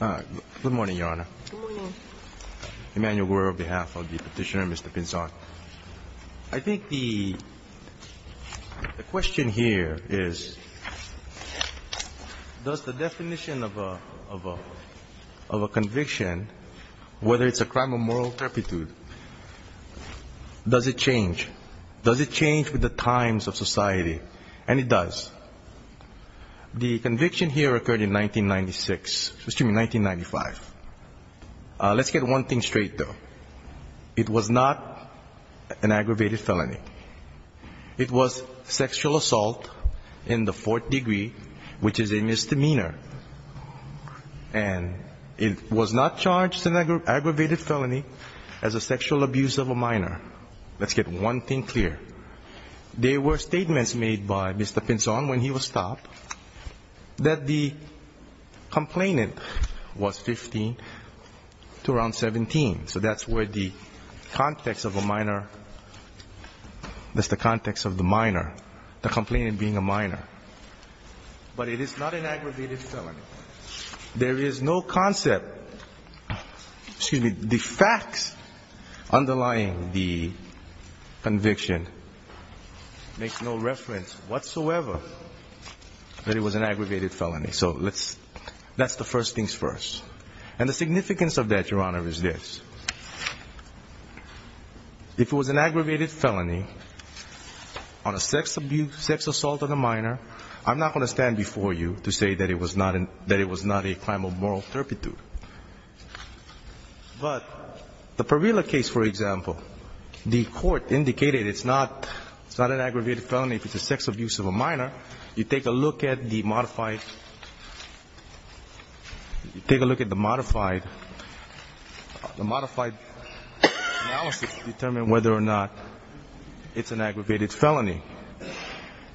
Good morning, Your Honor. Good morning. Emanuel Guerra, on behalf of the Petitioner, Mr. Pinzon. I think the question here is, does the definition of a conviction, whether it's a crime of moral turpitude, does it change? Does it change with the times of society? And it does. The conviction here occurred in 1996, excuse me, 1995. Let's get one thing straight, though. It was not an aggravated felony. It was sexual assault in the fourth degree, which is a misdemeanor. And it was not charged in an aggravated felony as a sexual abuse of a minor. Let's get one thing clear. There were statements made by Mr. Pinzon when he was stopped that the complainant was 15 to around 17. So that's where the context of a minor, that's the context of the minor, the complainant being a minor. But it is not an aggravated felony. There is no concept, excuse me, the facts underlying the conviction make no reference whatsoever that it was an aggravated felony. So let's, that's the first things first. And the significance of that, Your Honor, is this. If it was an aggravated felony on a sex abuse, sex assault of a minor, I'm not going to stand before you to say that it was not a crime of moral turpitude. But the Parilla case, for example, the court indicated it's not an aggravated felony if it's a sex abuse of a minor. You take a look at the modified analysis to determine whether or not it's an aggravated felony.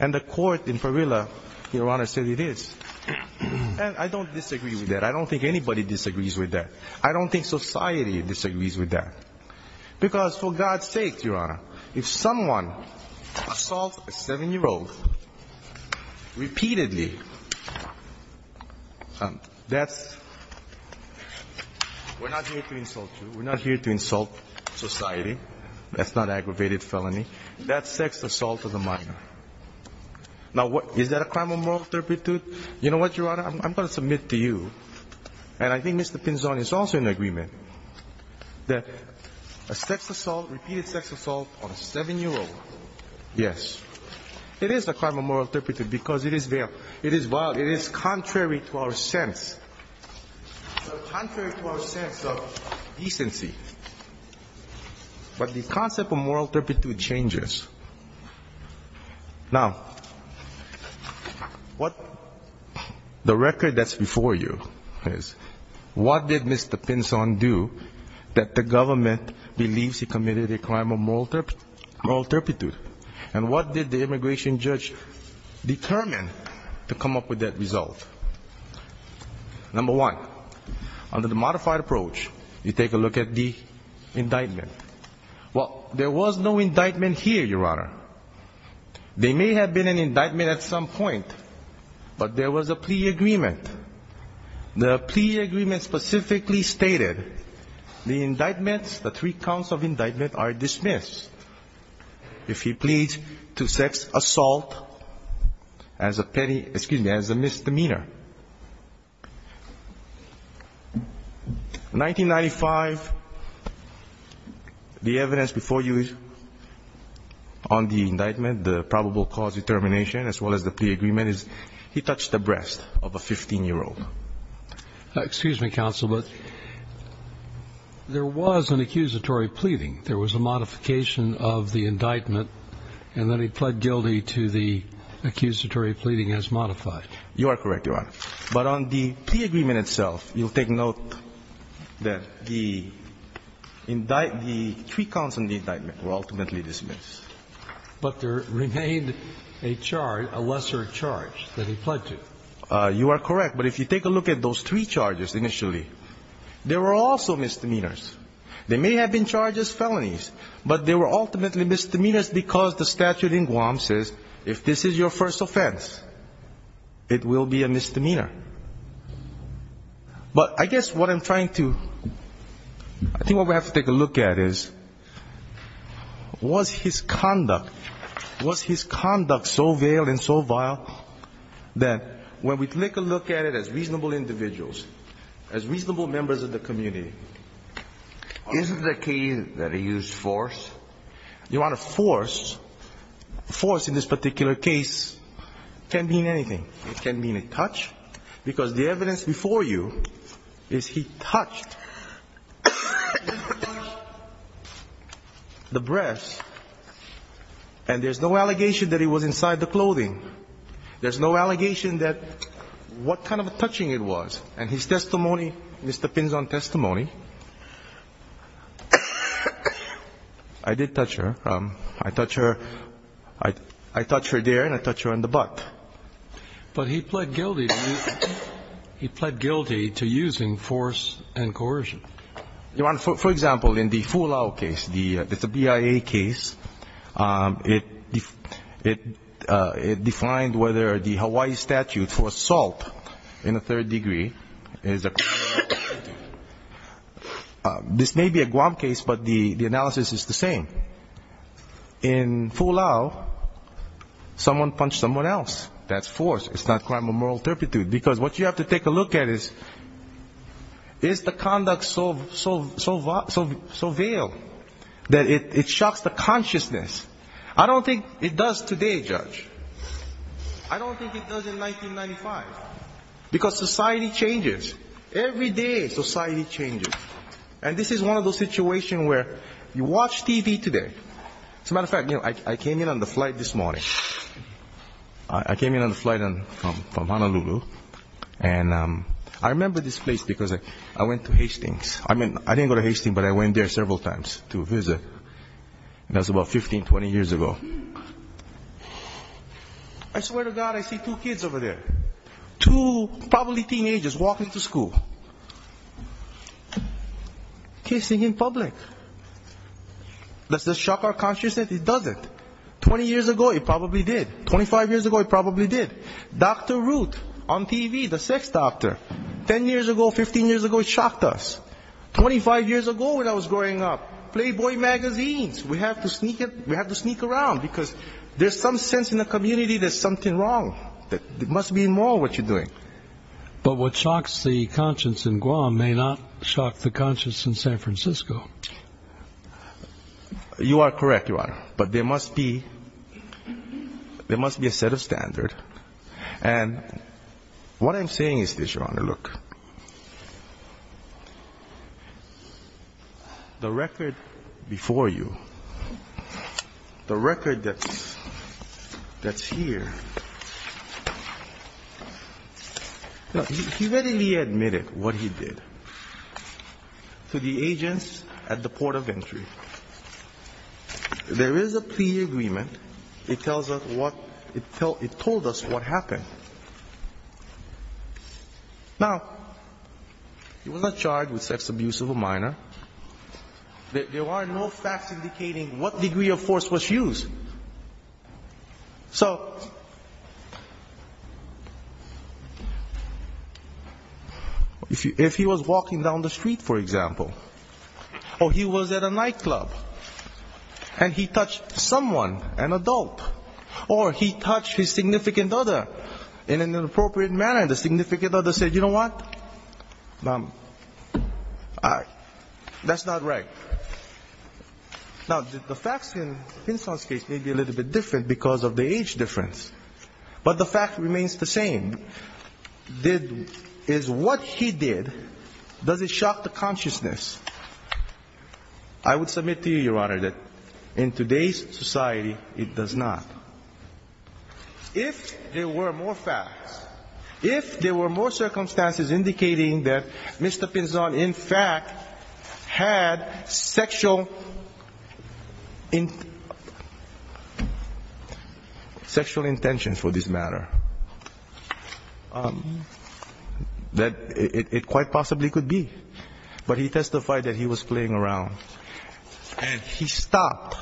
And the court in Parilla, Your Honor, said it is. And I don't disagree with that. I don't think anybody disagrees with that. I don't think society disagrees with that. Because, for God's sake, Your Honor, if someone assaults a seven-year-old repeatedly, that's, we're not here to insult you. We're not here to insult society. That's not an aggravated felony. That's sex assault of a minor. Now, is that a crime of moral turpitude? You know what, Your Honor, I'm going to submit to you, and I think Mr. Pinzon is also in agreement, that a sex assault, repeated sex assault on a seven-year-old, yes, it is a crime of moral turpitude because it is vile. It is contrary to our sense. It's contrary to our sense of decency. But the concept of moral turpitude changes. Now, what the record that's before you is, what did Mr. Pinzon do that the government believes he committed a crime of moral turpitude? And what did the immigration judge determine to come up with that result? Number one, under the modified approach, you take a look at the indictment. Well, there was no indictment here, Your Honor. There may have been an indictment at some point, but there was a plea agreement. The plea agreement specifically stated, the indictments, the three counts of indictment are dismissed if he pleads to sex assault as a petty, excuse me, as a misdemeanor. 1995, the evidence before you on the indictment, the probable cause determination, as well as the plea agreement, is he touched the breast of a 15-year-old. Excuse me, counsel, but there was an accusatory pleading. There was a modification of the indictment, and then he pled guilty to the accusatory pleading as modified. You are correct, Your Honor. But on the plea agreement itself, you'll take note that the three counts on the indictment were ultimately dismissed. But there remained a charge, a lesser charge that he pled to. You are correct. But if you take a look at those three charges initially, there were also misdemeanors. There may have been charges, felonies, but there were ultimately misdemeanors because the statute in Guam says, if this is your first offense, it will be a misdemeanor. But I guess what I'm trying to, I think what we have to take a look at is, was his conduct, was his conduct so vile and so vile that when we take a look at it as reasonable individuals, as reasonable members of the community? Isn't the case that he used force? Your Honor, force, force in this particular case can mean anything. It can mean a touch. Because the evidence before you is he touched the breast and there's no allegation that it was inside the clothing. There's no allegation that what kind of touching it was. And his testimony, Mr. Pinzon's testimony, I did touch her. I touch her, I touch her there and I touch her on the butt. But he pled guilty to using force and coercion. Your Honor, for example, in the Fulao case, the BIA case, it defined whether the Hawaii statute for assault in the third degree is a criminal offense. This may be a Guam case, but the analysis is the same. In Fulao, someone punched someone else. That's force. It's not crime of moral turpitude. Because what you have to take a look at is, is the conduct so vile that it shocks the consciousness? I don't think it does today, Judge. I don't think it does in 1995. Because society changes. Every day society changes. And this is one of those situations where you watch TV today. As a matter of fact, I came in on the flight this morning. I came in on the flight from Honolulu. And I remember this place because I went to Hastings. I didn't go to Hastings, but I went there several times to visit. That was about 15, 20 years ago. I swear to God, I see two kids over there. Two probably teenagers walking to school. Kissing in public. Does this shock our consciousness? It doesn't. 20 years ago, it probably did. 25 years ago, it probably did. Dr. Ruth on TV, the sex doctor. 10 years ago, 15 years ago, it shocked us. 25 years ago when I was growing up, Playboy magazines. We have to sneak around because there's some sense in the community there's something wrong. It must be immoral what you're doing. But what shocks the conscience in Guam may not shock the conscience in San Francisco. You are correct, Your Honor. But there must be a set of standards. And what I'm saying is this, Your Honor. Look. The record before you, the record that's here, he readily admitted what he did to the agents at the port of entry. There is a plea agreement. It tells us what, it told us what happened. Now, he was not charged with sex abuse of a minor. There are no facts indicating what degree of force was used. So if he was walking down the street, for example, or he was at a nightclub, and he touched someone, an adult, or he touched his significant other in an inappropriate manner, and the significant other said, you know what, that's not right. Now, the facts in Pinson's case may be a little bit different because of the age difference. But the fact remains the same. Is what he did, does it shock the consciousness? I would submit to you, Your Honor, that in today's society, it does not. If there were more facts, if there were more circumstances indicating that Mr. Pinson, in fact, had sexual intentions for this matter, that it quite possibly could be. But he testified that he was playing around. And he stopped.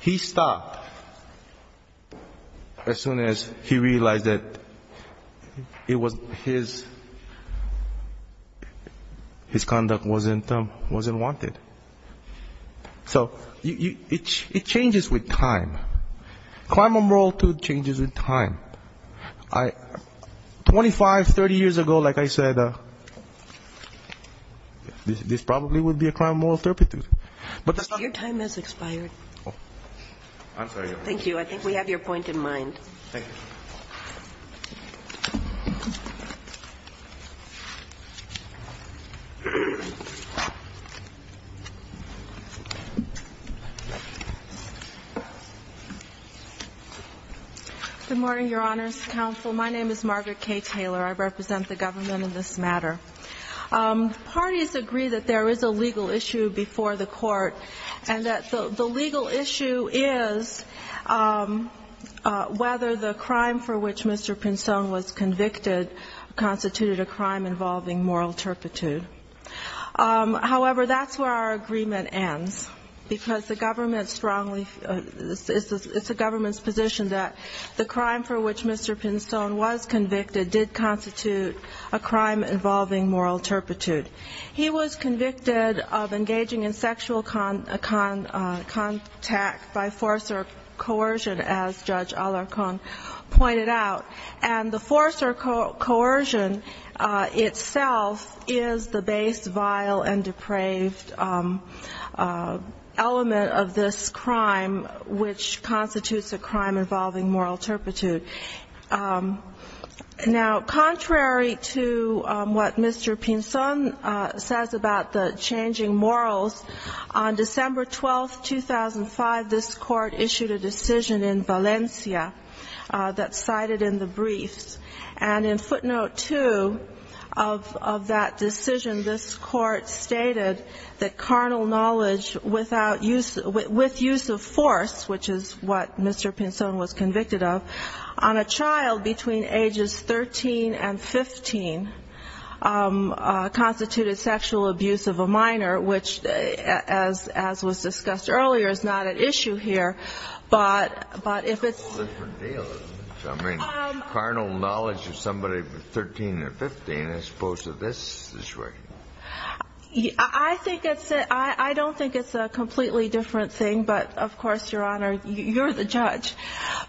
He stopped as soon as he realized that it was his conduct wasn't wanted. So it changes with time. Twenty-five, 30 years ago, like I said, this probably would be a crime of moral turpitude. Your time has expired. Thank you. I think we have your point in mind. Thank you. Good morning, Your Honors. Counsel, my name is Margaret K. Taylor. I represent the government in this matter. Parties agree that there is a legal issue before the court, and that the legal issue is whether the crime for which Mr. Pinson was convicted constituted a crime involving moral turpitude. However, that's where our agreement ends, because the government strongly, it's the government's position that the crime for which Mr. Pinson was convicted did constitute a crime involving moral turpitude. He was convicted of engaging in sexual contact by force or coercion, as Judge Alarcon pointed out. And the force or coercion itself is the base, vile, and depraved element of this crime, which constitutes a crime involving moral turpitude. Now, contrary to what Mr. Pinson says about the changing morals, on December 12, 2005, this court issued a decision in Valencia that's cited in the briefs. And in footnote two of that decision, this court stated that carnal knowledge with use of force, which is what Mr. Pinson was convicted of, on a child between ages 13 and 15 constituted sexual abuse of a minor, which, as was discussed earlier, is not at issue here. But if it's ---- It's a whole different deal. I mean, carnal knowledge of somebody 13 or 15 as opposed to this situation. I think it's a, I don't think it's a completely different thing. But, of course, Your Honor, you're the judge.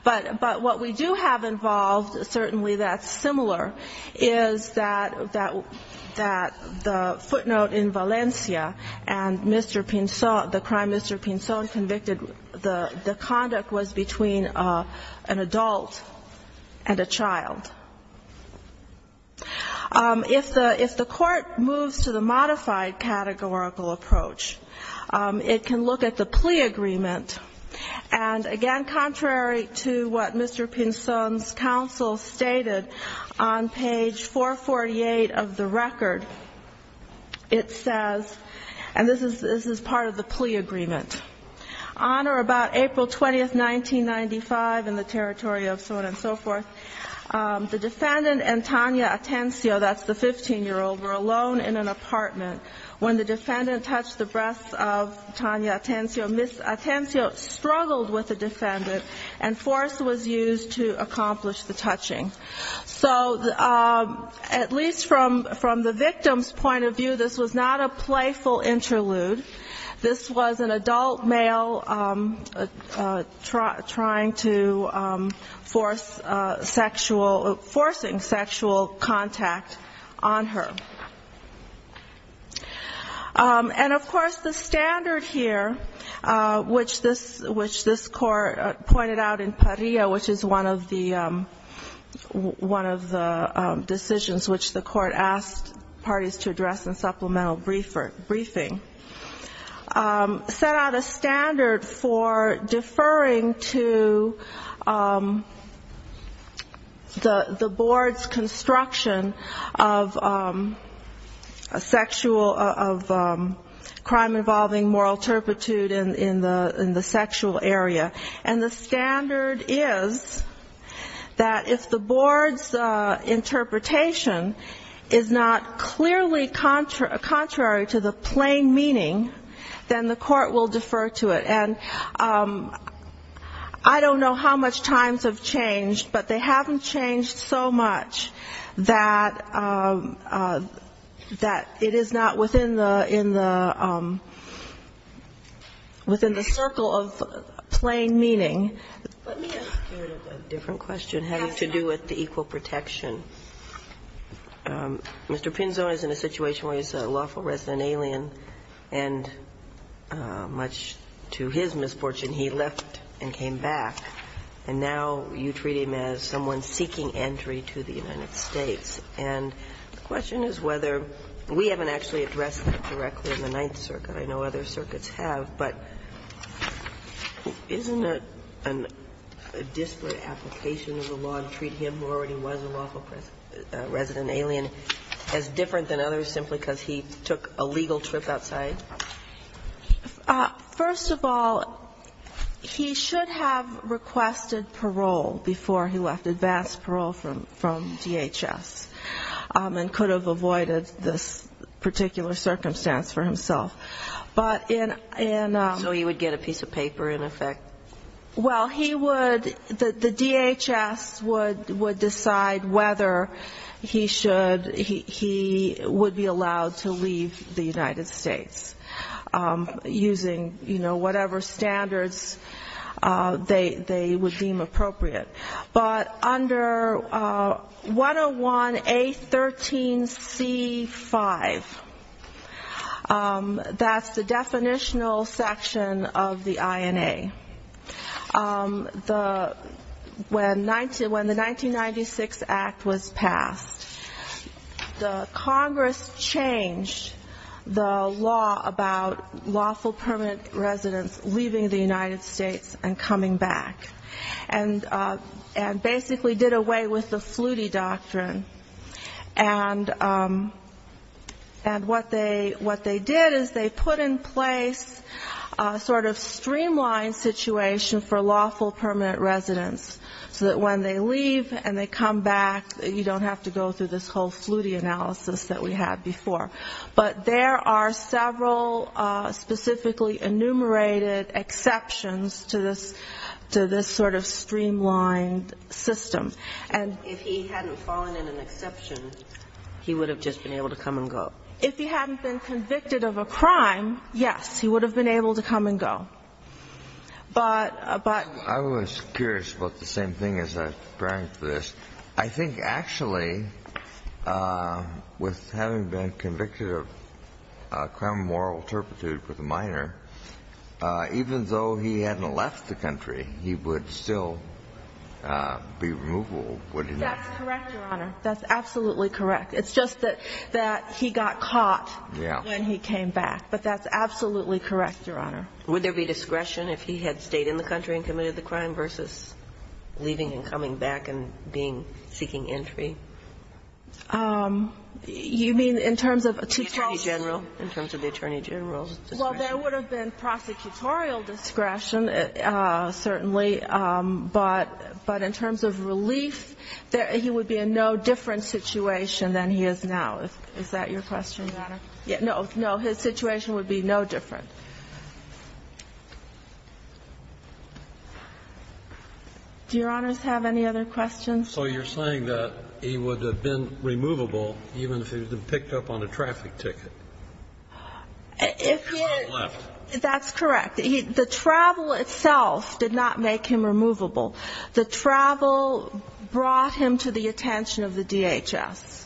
But what we do have involved, certainly that's similar, is that the footnote in Valencia and Mr. Pinson, the crime Mr. Pinson convicted, the conduct was between an adult and a child. If the court moves to the modified categorical approach, it can look at the plea agreement. And, again, contrary to what Mr. Pinson's counsel stated on page 448 of the record, it says, and this is part of the plea agreement, on or about April 20, 1995, in the territory of so on and so forth, the defendant and Tania Atencio, that's the 15-year-old, were alone in an apartment. When the defendant touched the breasts of Tania Atencio, Ms. Atencio struggled with the defendant and force was used to accomplish the touching. So at least from the victim's point of view, this was not a playful interlude. This was an adult male trying to force sexual, forcing sexual contact on her. And, of course, the standard here, which this court pointed out in Parrilla, which is one of the decisions which the court asked parties to address in supplemental briefing, set out a standard for deferring to the board's construction of sexual, of crime-involving moral turpitude in the sexual area. And the standard is that if the board's interpretation is not clearly contrary to the plain meaning, then the court will defer to it. And I don't know how much times have changed, but they haven't changed so much that it is not within the circle of plain meaning. Let me ask a different question having to do with the equal protection. Mr. Pinzon is in a situation where he's a lawful resident alien, and much to his misfortune, he left and came back. And now you treat him as someone seeking entry to the United States. And the question is whether we haven't actually addressed that directly in the Ninth Circuit. I know other circuits have, but isn't it a disparate application of the law to treat him, who already was a lawful resident alien, as different than others simply because he took a legal trip outside? First of all, he should have requested parole before he left, advanced parole from DHS, and could have avoided this particular circumstance for himself. But in ‑‑ So he would get a piece of paper in effect? Well, he would, the DHS would decide whether he should, he would be allowed to leave the United States, using, you know, whatever standards they would deem appropriate. But under 101A13C5, that's the definitional section of the INA. The ‑‑ when the 1996 Act was passed, the Congress changed the law about lawful permanent residents leaving the United States and coming back, and basically did away with the Flutie doctrine. And what they did is they put in place a sort of streamlined situation for lawful permanent residents, so that when they leave and they come back, you don't have to go through this whole Flutie analysis that we had before. But there are several specifically enumerated exceptions to this sort of streamlined system. And if he hadn't fallen in an exception, he would have just been able to come and go. If he hadn't been convicted of a crime, yes, he would have been able to come and go. But ‑‑ I was curious about the same thing as I was preparing for this. I think actually, with having been convicted of a crime of moral turpitude with a minor, even though he hadn't left the country, he would still be removable, wouldn't he? That's correct, Your Honor. That's absolutely correct. It's just that he got caught when he came back. But that's absolutely correct, Your Honor. Would there be discretion if he had stayed in the country and committed the crime versus leaving and coming back and being ‑‑ seeking entry? You mean in terms of 2012? In terms of the Attorney General? In terms of the Attorney General's discretion? Well, there would have been prosecutorial discretion, certainly. But in terms of relief, he would be in no different situation than he is now. Is that your question, Your Honor? No. No. His situation would be no different. Do Your Honors have any other questions? So you're saying that he would have been removable even if he had been picked up on a traffic ticket? If he had left. That's correct. The travel itself did not make him removable. The travel brought him to the attention of the DHS.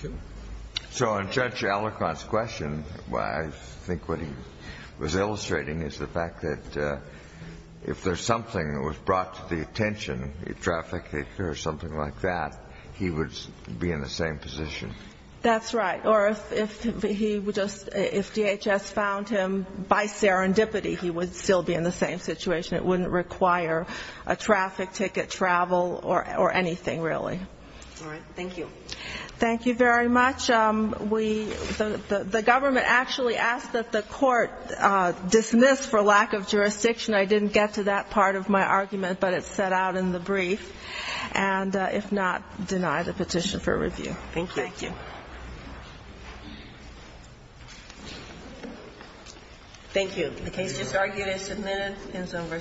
Thank you. So on Judge Allegrant's question, I think what he was illustrating is the fact that if there's something that was brought to the attention, a trafficker or something like that, he would be in the same position. That's right. Or if DHS found him, by serendipity he would still be in the same situation. It wouldn't require a traffic ticket, travel, or anything really. All right. Thank you. Thank you very much. The government actually asked that the court dismiss for lack of jurisdiction. I didn't get to that part of my argument, but it's set out in the brief. And if not, deny the petition for review. Thank you. Thank you. Thank you. The case is argued and submitted.